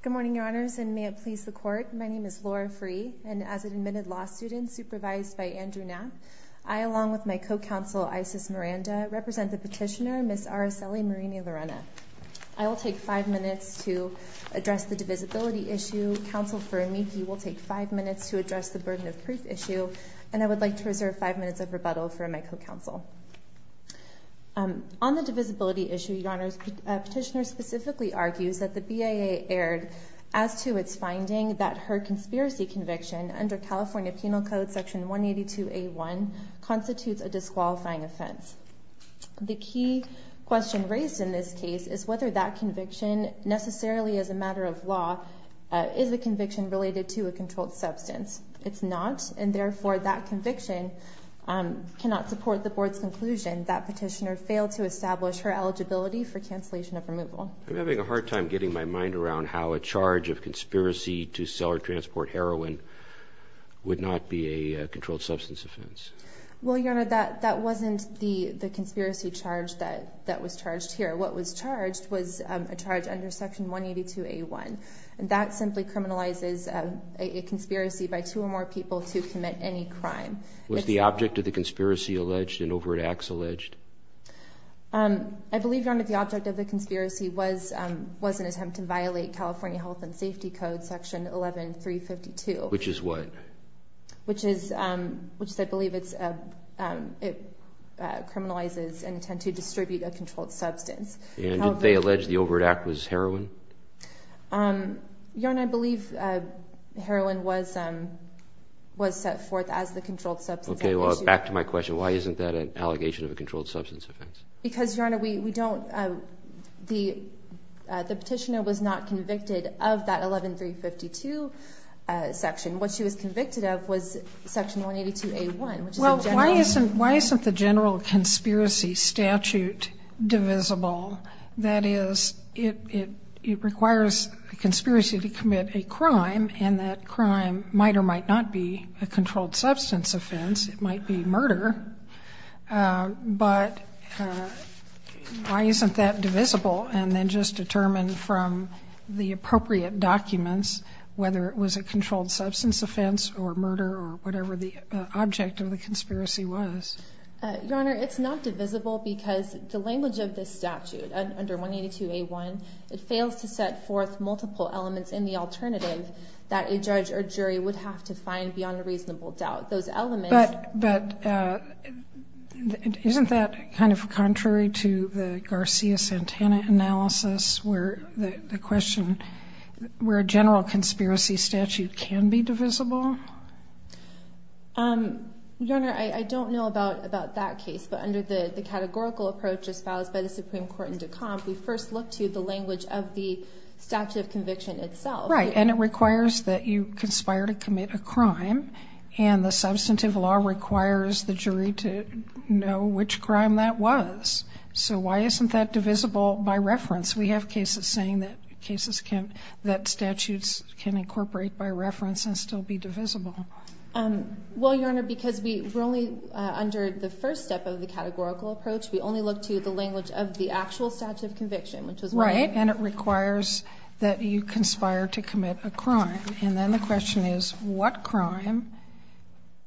Good morning, Your Honors, and may it please the Court, my name is Laura Freeh, and as an admitted law student supervised by Andrew Knapp, I, along with my co-counsel Isis Miranda, represent the petitioner, Ms. Aracely Marinelarena. I will take five minutes to address the divisibility issue. Counsel for me, he will take five minutes to address the burden of proof issue, and I would like to reserve five minutes of rebuttal for my co-counsel. On the divisibility issue, Your Honors, petitioner specifically argues that the BIA erred as to its finding that her conspiracy conviction under California Penal Code Section 182A1 constitutes a disqualifying offense. The key question raised in this case is whether that conviction necessarily as a matter of law is a conviction related to a controlled substance. It's not, and therefore that conviction cannot support the Board's conclusion that petitioner failed to establish her eligibility for cancellation of removal. I'm having a hard time getting my mind around how a charge of conspiracy to sell or transport heroin would not be a controlled substance offense. Well, Your Honor, that wasn't the conspiracy charge that was charged here. What was charged was a charge under Section 182A1, and that simply criminalizes a conspiracy by two or more people to commit any crime. Was the object of the conspiracy alleged and overt acts alleged? I believe, Your Honor, the object of the conspiracy was an attempt to violate California Health and Safety Code Section 11352. Which is what? Which is, which I believe it's, it criminalizes an attempt to distribute a controlled substance. And they allege the overt act was heroin? Your Honor, I believe heroin was set forth as the controlled substance offense. Okay, well, back to my question. Why isn't that an allegation of a controlled substance offense? Because, Your Honor, we don't, the petitioner was not Well, why isn't, why isn't the general conspiracy statute divisible? That is, it, it, it requires a conspiracy to commit a crime, and that crime might or might not be a controlled substance offense. It might be murder. But why isn't that divisible and then just determined from the appropriate documents, whether it was a controlled substance offense or murder or whatever the object of the conspiracy was? Your Honor, it's not divisible because the language of this statute, under 182A1, it fails to set forth multiple elements in the alternative that a judge or jury would have to find beyond a reasonable doubt. Those elements But, but, isn't that kind of contrary to the Garcia-Santana analysis where the question, where a general conspiracy statute can be divisible? Your Honor, I, I don't know about, about that case, but under the, the categorical approach espoused by the Supreme Court in Decomp, we first look to the language of the statute of conviction itself. Right, and it requires that you conspire to commit a crime, and the substantive law requires the jury to know which crime that was. So why isn't that divisible by reference? We have cases saying that cases can, that statutes can incorporate by reference and still be divisible. Well, Your Honor, because we, we're only under the first step of the categorical approach, we only look to the language of the actual statute of conviction, which was Right, and it requires that you conspire to commit a crime. And then the question is, what crime?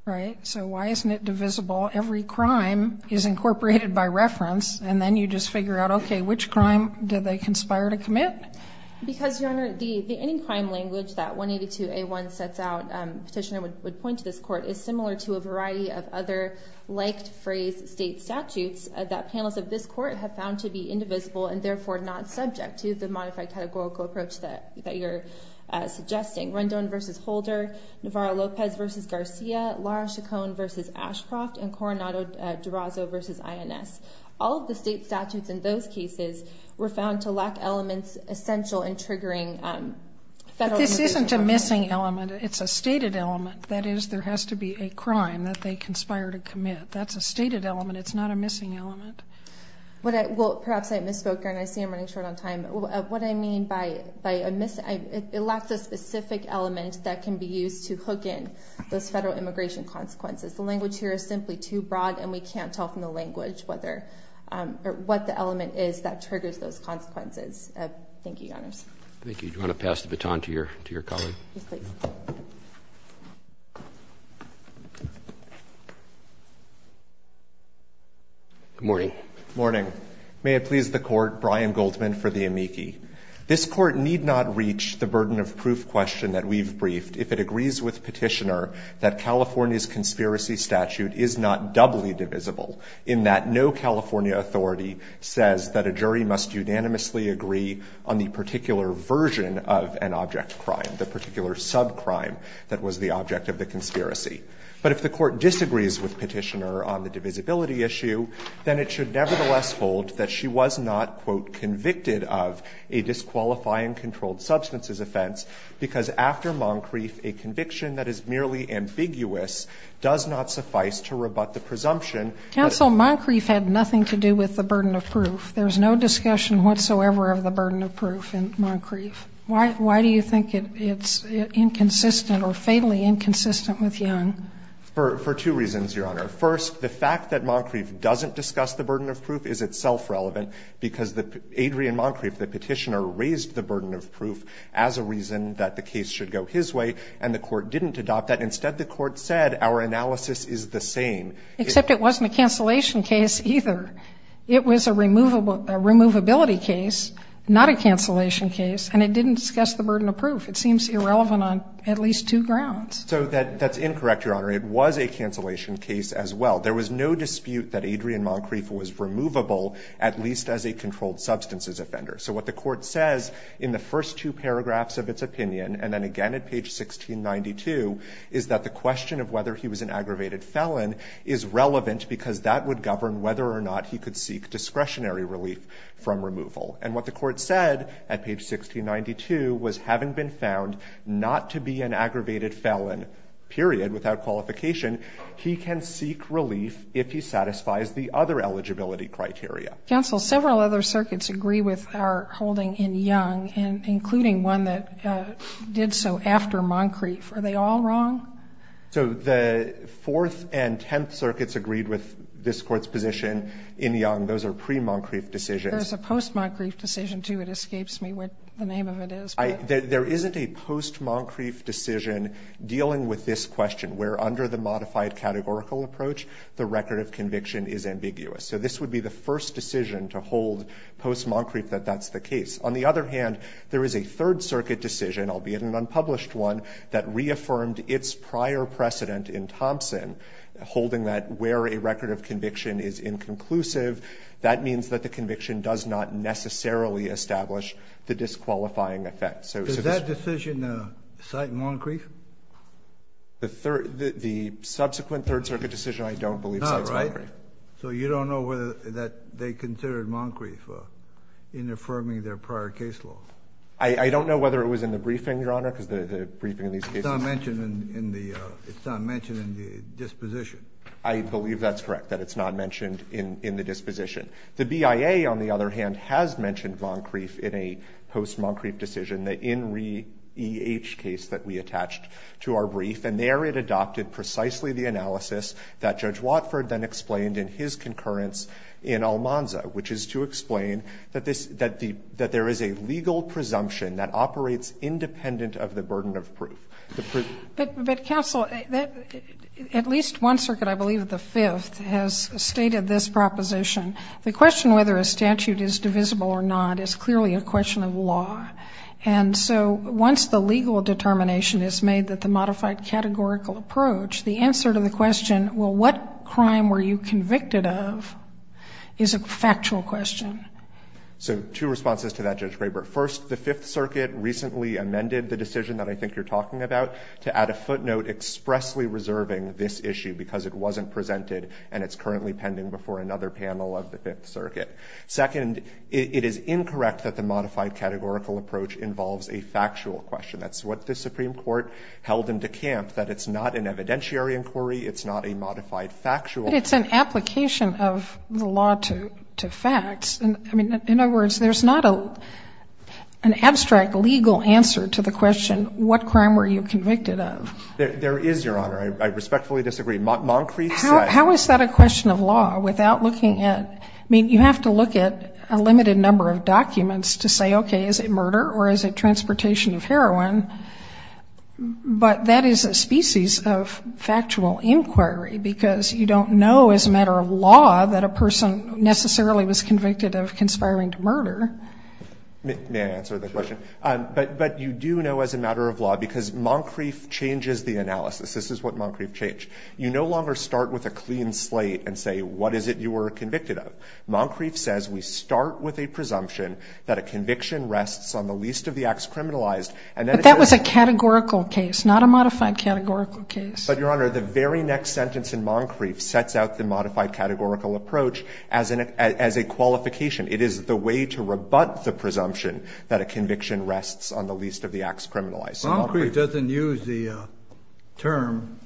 Right? So why isn't it divisible? Every crime is incorporated by reference, and then you just figure out, okay, which crime did they conspire to commit? Because, Your Honor, the, the, any crime language that 182A1 sets out, petitioner would, would point to this court, is similar to a variety of other liked phrase state statutes that panels of this court have found to be indivisible and therefore not subject to the modified categorical approach that, that you're suggesting. Rendon v. Holder, Navarro-Lopez v. Garcia, Lara Chacon v. Ashcroft, and Coronado-DiRosso v. INS. All of the state statutes in those cases were found to lack elements essential in triggering federal immigration. But this isn't a missing element. It's a stated element. That is, there has to be a crime that they conspire to commit. That's a stated element. It's not a missing element. What I, well, perhaps I misspoke, Your Honor. I see I'm running short on time. What I mean by, by a miss, it lacks a specific element that can be used to hook in those federal immigration consequences. The language here is simply too broad and we can't tell from the language whether, or what the element is that triggers those consequences. Thank you, Your Honors. Thank you. Do you want to pass the baton to your, to your colleague? Yes, please. Good morning. Good morning. May it please the court, Brian Goldman for the amici. This court need not reach the burden of proof question that we've briefed if it agrees with Petitioner that California's conspiracy statute is not doubly divisible in that no California authority says that a jury must unanimously agree on the particular version of an object crime, the particular subcrime that was the object of the conspiracy. But if the court disagrees with Petitioner on the divisibility issue, then it should nevertheless hold that she was not, quote, convicted of a disqualifying controlled substances offense, because after Moncrief, a conviction that is merely ambiguous does not suffice to rebut the presumption. Counsel, Moncrief had nothing to do with the burden of proof. There's no discussion whatsoever of the burden of proof in Moncrief. Why, why do you think it, it's inconsistent or fatally inconsistent with Young? For, for two reasons, Your Honor. First, the fact that Moncrief doesn't discuss the burden of proof is itself relevant, because the, Adrian Moncrief, the Petitioner, raised the burden of proof as a reason that the case should go his way, and the court didn't adopt that. Instead, the court said our analysis is the same. Except it wasn't a cancellation case, either. It was a removable, a removability case, not a cancellation case, and it didn't discuss the burden of proof. It seems irrelevant on at least two grounds. So that, that's incorrect, Your Honor. It was a cancellation case as well. There was no dispute that Adrian Moncrief was removable, at least as a controlled substances offender. So what the court says in the first two paragraphs of its opinion, and then again at page 1692, is that the question of whether he was an aggravated felon is relevant because that would govern whether or not he could seek discretionary relief from removal. And what the court said at page 1692 was, having been found not to be an aggravated felon, period, without qualification, he can seek relief if he satisfies the other eligibility criteria. Counsel, several other circuits agree with our holding in Young, and including one that did so after Moncrief. Are they all wrong? So the Fourth and Tenth Circuits agreed with this Court's position in Young. Those are pre-Moncrief decisions. There's a post-Moncrief decision, too. It escapes me what the name of it is. There isn't a post-Moncrief decision dealing with this question, where under the modified categorical approach, the record of conviction is ambiguous. So this would be the first decision to hold post-Moncrief that that's the case. On the other hand, there is a Third Circuit decision, albeit an unpublished one, that reaffirmed its prior precedent in Thompson, holding that where a record of conviction is inconclusive, that means that the conviction does not necessarily establish the disqualifying effect. Does that decision cite Moncrief? The subsequent Third Circuit decision, I don't believe cites Moncrief. Not right? So you don't know whether they considered Moncrief in affirming their prior case law? I don't know whether it was in the briefing, Your Honor, because the briefing in these cases — It's not mentioned in the disposition. I believe that's correct, that it's not mentioned in the disposition. The BIA, on the other hand, has mentioned Moncrief in a post-Moncrief decision, the INRI-EH case that we attached to our brief, and there it adopted precisely the analysis that Judge Watford then explained in his concurrence in Almanza, which is to explain that this — that there is a legal presumption that operates independent of the burden of proof. But, counsel, at least one circuit, I believe the Fifth, has stated this proposition. The question whether a statute is divisible or not is clearly a question of law. And so once the legal determination is made that the modified categorical approach, the answer to the question, well, what crime were you convicted of, is a factual question. So two responses to that, Judge Graber. First, the Fifth Circuit recently amended the decision that I think you're talking about to add a footnote expressly reserving this issue because it wasn't presented and it's currently pending before another panel of the Fifth Circuit. Second, it is incorrect that the modified categorical approach involves a factual question. That's what the Supreme Court held in DeKalb, that it's not an evidentiary inquiry, it's not a modified factual. It's an application of the law to facts. I mean, in other words, there's not an abstract legal answer to the question, what crime were you convicted of? There is, Your Honor. I respectfully disagree. Moncrief said... How is that a question of law without looking at, I mean, you have to look at a limited number of documents to say, okay, is it murder or is it transportation of heroin? But that is a species of factual inquiry because you don't know as a matter of law that a person necessarily was convicted of conspiring to murder. May I answer the question? But you do know as a matter of law because Moncrief changes the analysis. This is what Moncrief changed. You no longer start with a clean slate and say what is it you were convicted of. Moncrief says we start with a presumption that a conviction rests on the least of the acts criminalized and then... But that was a categorical case, not a modified categorical case. But, Your Honor, the very next sentence in Moncrief sets out the modified categorical approach as a qualification. It is the way to rebut the presumption that a conviction rests on the least of the acts criminalized. Moncrief doesn't use the term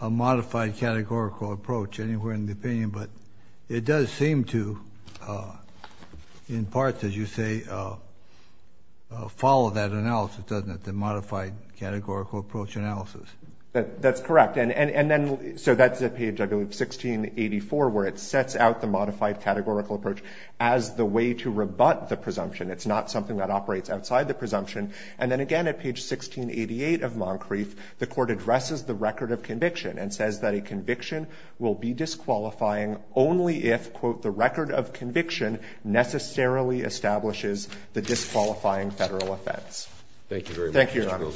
a modified categorical approach anywhere in the opinion, but it does seem to, in part, as you say, follow that analysis, doesn't it, the modified categorical approach analysis? That's correct. And then so that's at page 1684 where it sets out the modified categorical approach as the way to rebut the presumption. It's not something that operates outside the presumption. And then again at page 1688 of Moncrief, the court addresses the record of conviction and says that a conviction will be disqualifying only if, quote, the record of conviction necessarily establishes the disqualifying Federal offense. Thank you, Your Honor. Thank you.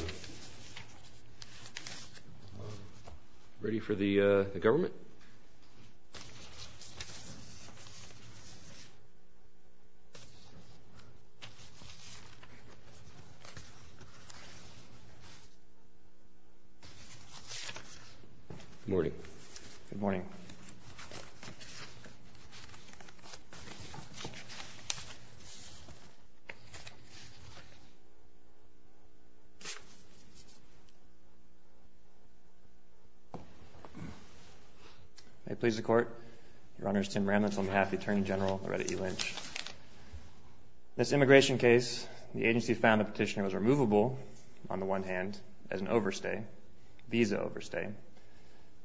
Ready for the government? Good morning. May it please the Court. Your Honor, it's Tim Ramlitz on behalf of the Attorney General Loretta E. Lynch. In this immigration case, the agency found the petitioner was removable on the one hand as an overstay, visa overstay,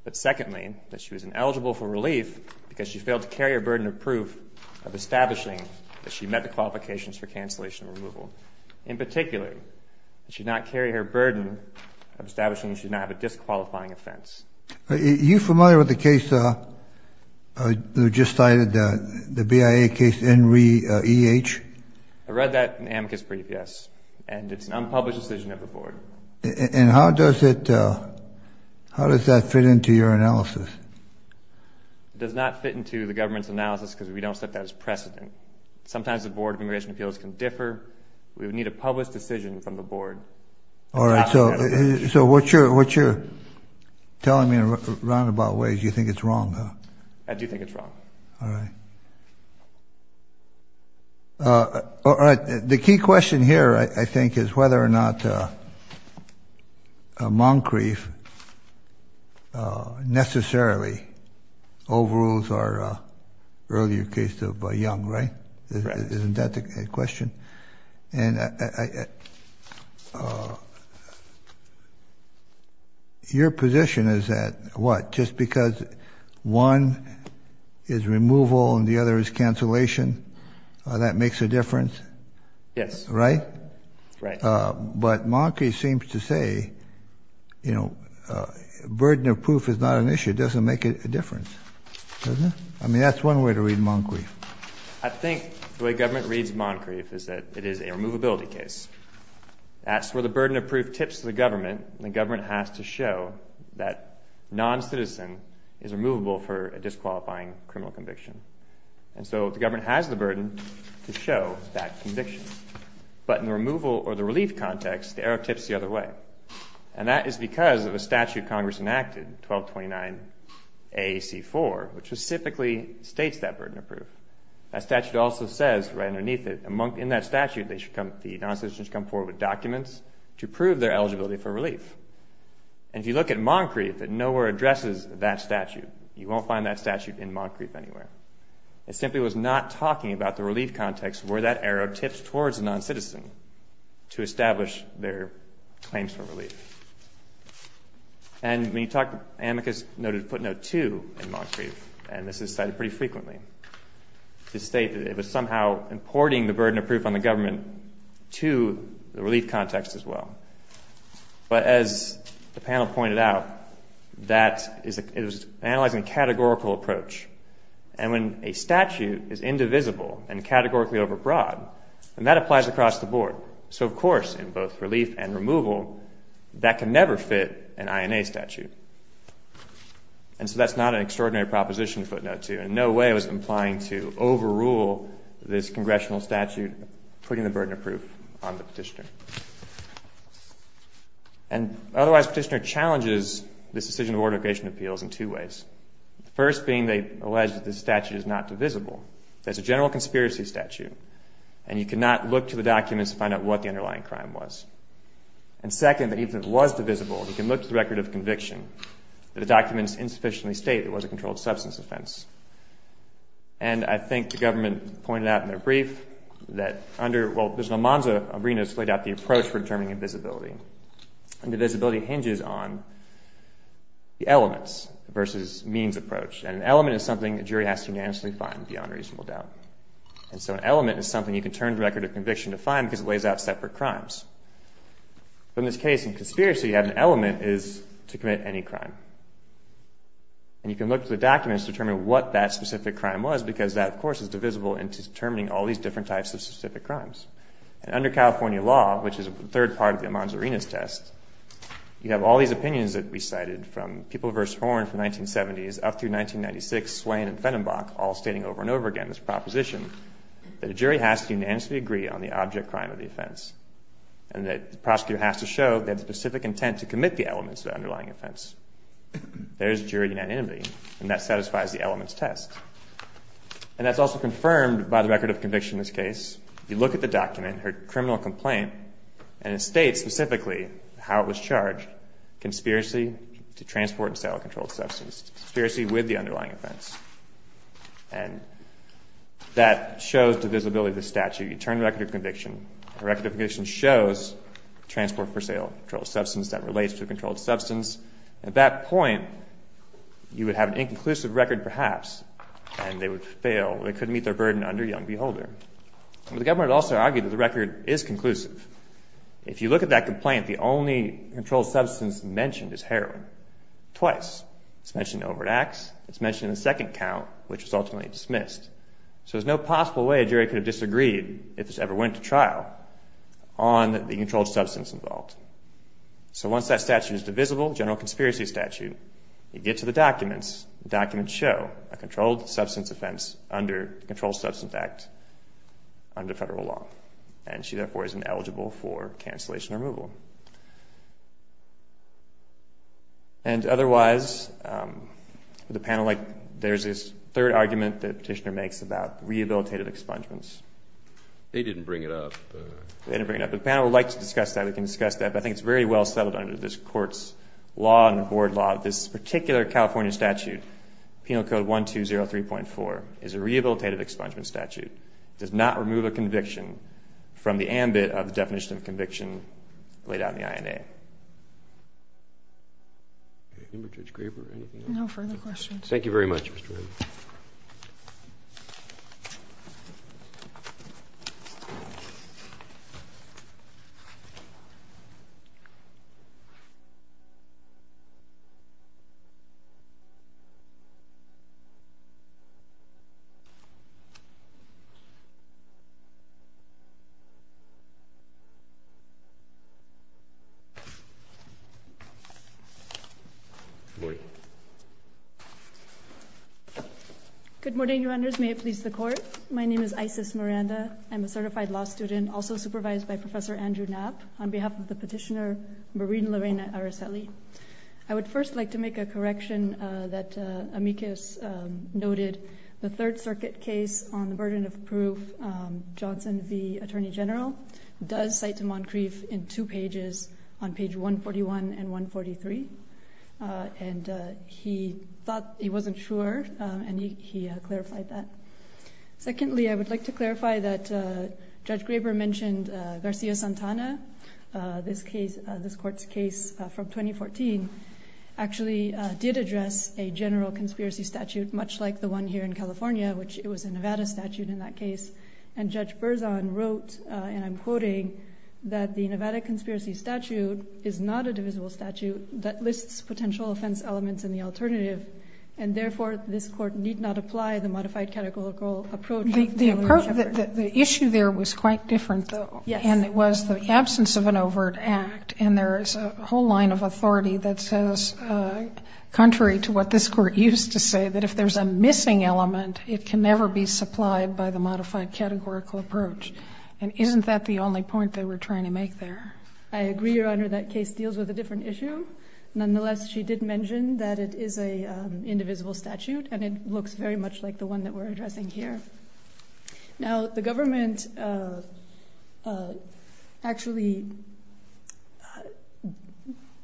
but secondly, that she was ineligible for relief because she failed to carry a burden of proof of establishing that she met the qualifications for cancellation and removal. In particular, she did not carry her burden of establishing that she did not have a disqualifying offense. Are you familiar with the case that was just cited, the BIA case NREH? I read that in Amicus Brief, yes. And it's an unpublished decision of the Board. And how does it, how does that fit into your analysis? It does not fit into the government's analysis because we don't set that as precedent. Sometimes the Board of Immigration Appeals can differ. We would need a published decision from the Board. All right. So what you're telling me in roundabout ways, you think it's wrong, huh? I do think it's wrong. All right. All right. The key question here, I think, is whether or not Moncrief necessarily overrules our earlier case of Young, right? Right. Isn't that the question? Your position is that, what, just because one is removal and the other is cancellation, that makes a difference? Yes. Right? Right. But Moncrief seems to say, you know, burden of proof is not an issue. It doesn't make a difference, does it? I mean, that's one way to read Moncrief. I think the way government reads Moncrief is that it is a removability case. That's where the burden of proof tips to the government, and the government has to show that non-citizen is removable for a disqualifying criminal conviction. And so the government has the burden to show that conviction. But in the removal or the relief context, the arrow tips the other way. And that is because of a statute Congress enacted, 1229 A.C. 4, which specifically states that burden of proof. That statute also says right underneath it, in that statute the non-citizen should come forward with documents to prove their eligibility for relief. And if you look at Moncrief, it nowhere addresses that statute. You won't find that statute in Moncrief anywhere. It simply was not talking about the relief context where that arrow tips towards the non-citizen to establish their claims for relief. And when you talk, Amicus noted footnote 2 in Moncrief, and this is cited pretty frequently, to state that it was somehow importing the burden of proof on the government to the relief context as well. But as the panel pointed out, that is analyzing a categorical approach. And when a statute is indivisible and categorically overbroad, then that applies across the board. So of course, in both relief and removal, that can never fit an INA statute. And so that's not an extraordinary proposition, footnote 2. In no way was it implying to overrule this Congressional statute putting the burden of proof on the petitioner. And otherwise, the petitioner challenges this decision of ordination appeals in two ways. The first being they allege that this statute is not divisible. That it's a general conspiracy statute, and you cannot look to the documents to find out what the underlying crime was. And second, that even if it was divisible, you can look to the record of conviction that the documents insufficiently state it was a controlled substance offense. And I think the government pointed out in their brief that under, well, Mr. Almanza-Abrinas laid out the approach for determining invisibility. And divisibility hinges on the elements versus means approach. And an element is something a jury has to unanimously find beyond reasonable doubt. And so an element is something you can turn the record of conviction to find because it lays out separate crimes. But in this case, in conspiracy, you have an element is to commit any crime. And you can look to the documents to determine what that specific crime was because that, of course, is divisible into determining all these different types of specific crimes. And under California law, which is the third part of the Almanza-Abrinas test, you have all these opinions that we cited from People v. Horn from 1970s up through 1996, Swain and Fennenbach, all stating over and over again this proposition that a jury has to unanimously agree on the object crime of the offense. And that the prosecutor has to show they have the specific intent to commit the elements of the underlying offense. There's jury unanimity, and that satisfies the elements test. And that's also confirmed by the record of conviction in this case. You look at the document, her criminal complaint, and it states specifically how it was charged. Conspiracy to transport and sell a controlled substance. Conspiracy with the underlying offense. And that shows divisibility of the statute. You turn the record of conviction. The record of conviction shows transport for sale of a controlled substance that relates to a controlled substance. At that point, you would have an inconclusive record, perhaps, and they would fail. They couldn't meet their burden under young beholder. The government also argued that the record is conclusive. If you look at that complaint, the only controlled substance mentioned is heroin. Twice. It's mentioned in overt acts, it's mentioned in the second count, which was ultimately dismissed. So there's no possible way a jury could have disagreed, if this ever went to trial, on the controlled substance involved. So once that statute is divisible, general conspiracy statute, and you get to the documents, the documents show a controlled substance offense under the Controlled Substance Act under federal law. And she, therefore, is ineligible for cancellation or removal. And otherwise, the panel, like, there's this third argument that Petitioner makes about rehabilitative expungements. They didn't bring it up. They didn't bring it up. The panel would like to discuss that. We can discuss that, but I think it's very well settled under this court's law and the board law that this particular California statute, Penal Code 1203.4, is a rehabilitative expungement statute. It does not remove a conviction from the ambit of the definition of conviction laid out in the INA. No further questions. Thank you very much. Thank you. Good morning. Good morning, New Honders. May it please the Court. My name is Isis Miranda. I'm a certified law student, also supervised by Professor Andrew Knapp on behalf of the Petitioner, Maureen Lorraine Araceli. I would first like to make a correction that Amicus noted. The Third Circuit case on the burden of proof, Johnson v. Attorney General, does cite to Moncrief in two pages, on page 141 and 143. And he thought, he wasn't sure, and he clarified that. Secondly, I would like to clarify that Judge Graber mentioned Garcia-Santana, this Court's case from 2014, actually did address a general conspiracy statute, much like the one here in California, which it was a Nevada statute in that case. And Judge Berzon wrote, and I'm quoting, that the Nevada conspiracy statute is not a divisible statute that lists potential offense elements in the alternative, and therefore this Court need not apply the modified categorical approach of Taylor and Shepard. The issue there was quite different, though. Yes. And it was the absence of an overt act, and there is a whole line of authority that says, contrary to what this Court used to say, that if there's a missing element, it can never be supplied by the modified categorical approach. And isn't that the only point they were trying to make there? I agree, Your Honor, that case deals with a different issue. Nonetheless, she did mention that it is an indivisible statute, and it looks very much like the one that we're addressing here. Now, the government actually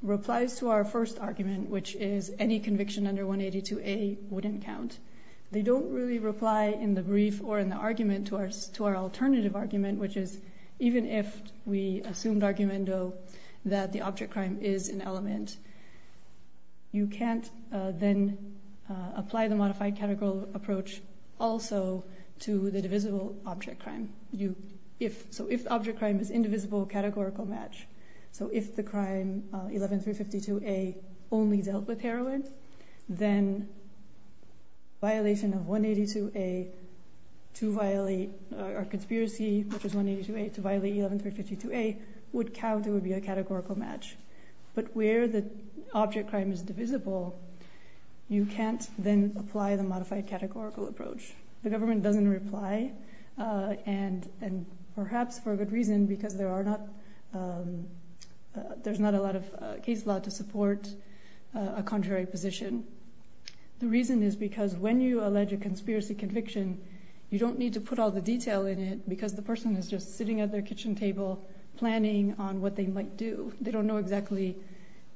replies to our first argument, which is any conviction under 182A wouldn't count. They don't really reply in the brief or in the argument to our alternative argument, which is even if we assumed argumento that the object crime is an element, you can't then apply the modified categorical approach also to the divisible object crime. So if the object crime is indivisible categorical match, so if the crime 11352A only dealt with heroin, then violation of 182A to violate our conspiracy, which is 182A, to violate 11352A, would count and would be a categorical match. But where the object crime is divisible, you can't then apply the modified categorical approach. The government doesn't reply, and perhaps for a good reason, because there's not a lot of case law to support a contrary position. The reason is because when you allege a conspiracy conviction, you don't need to put all the detail in it because the person is just sitting at their kitchen table planning on what they might do. They don't know exactly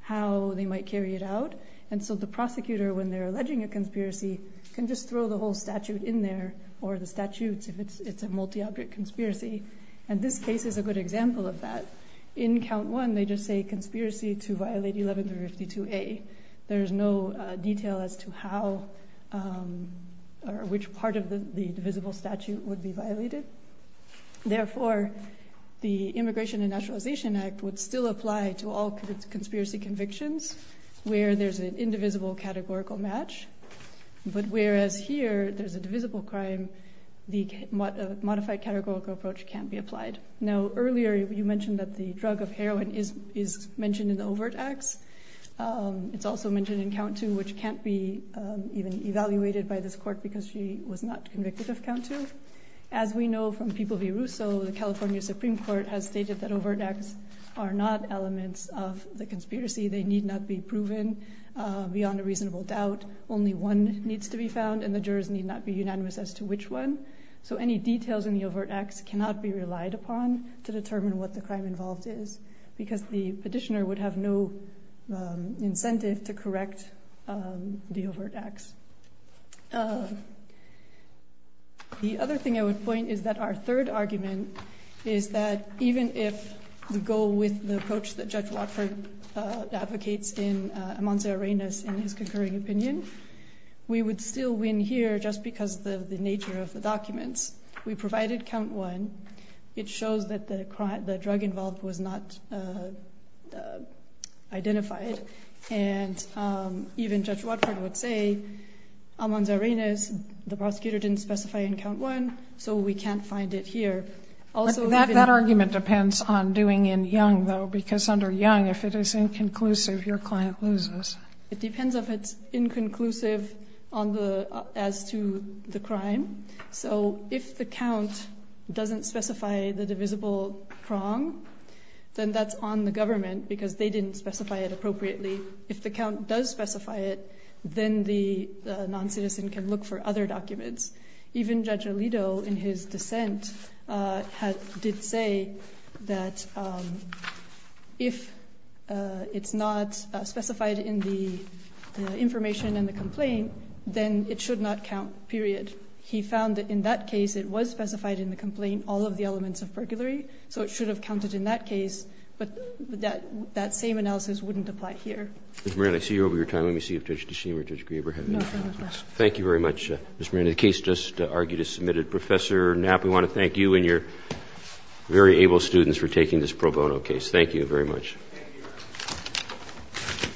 how they might carry it out, and so the prosecutor, when they're alleging a conspiracy, can just throw the whole statute in there, or the statutes, if it's a multi-object conspiracy. And this case is a good example of that. In count one, they just say conspiracy to violate 11352A. There's no detail as to how, or which part of the divisible statute would be violated. Therefore, the Immigration and Naturalization Act would still apply to all conspiracy convictions where there's an indivisible categorical match, but whereas here there's a divisible crime, the modified categorical approach can't be applied. Now, earlier, you mentioned that the drug of heroin is mentioned in the overt acts. It's also mentioned in count two, which can't be even evaluated by this court because she was not convicted of count two. As we know from People v. Russo, the California Supreme Court has stated that overt acts are not elements of the conspiracy. They need not be proven beyond a reasonable doubt. Only one needs to be found, and the jurors need not be unanimous as to which one. So any details in the overt acts cannot be relied upon to determine what the crime involved is because the petitioner would have no incentive to correct the overt acts. The other thing I would point is that our third argument is that even if the goal with the approach that Judge Watford advocates in Amonza Arenas in his concurring opinion, we would still win here just because of the nature of the documents. We provided count one. It shows that the drug involved was not identified, and even Judge Watford would say, Amonza Arenas, the prosecutor didn't specify in count one, so we can't find it here. That argument depends on doing in Young, though, because under Young, if it is inconclusive, your client loses. It depends if it's inconclusive as to the crime. So if the count doesn't specify the divisible prong, then that's on the government because they didn't specify it appropriately. If the count does specify it, then the noncitizen can look for other documents. Even Judge Alito, in his dissent, did say that if it's not specified in the information in the complaint, then it should not count, period. He found that in that case, it was specified in the complaint, all of the elements of burglary, so it should have counted in that case, but that same analysis wouldn't apply here. Ms. Marin, I see you're over your time. Let me see if Judge DeShima or Judge Grieber have any comments. Thank you very much, Ms. Marin. The case just argued is submitted. Professor Knapp, we want to thank you and your very able students for taking this pro bono case. Thank you very much.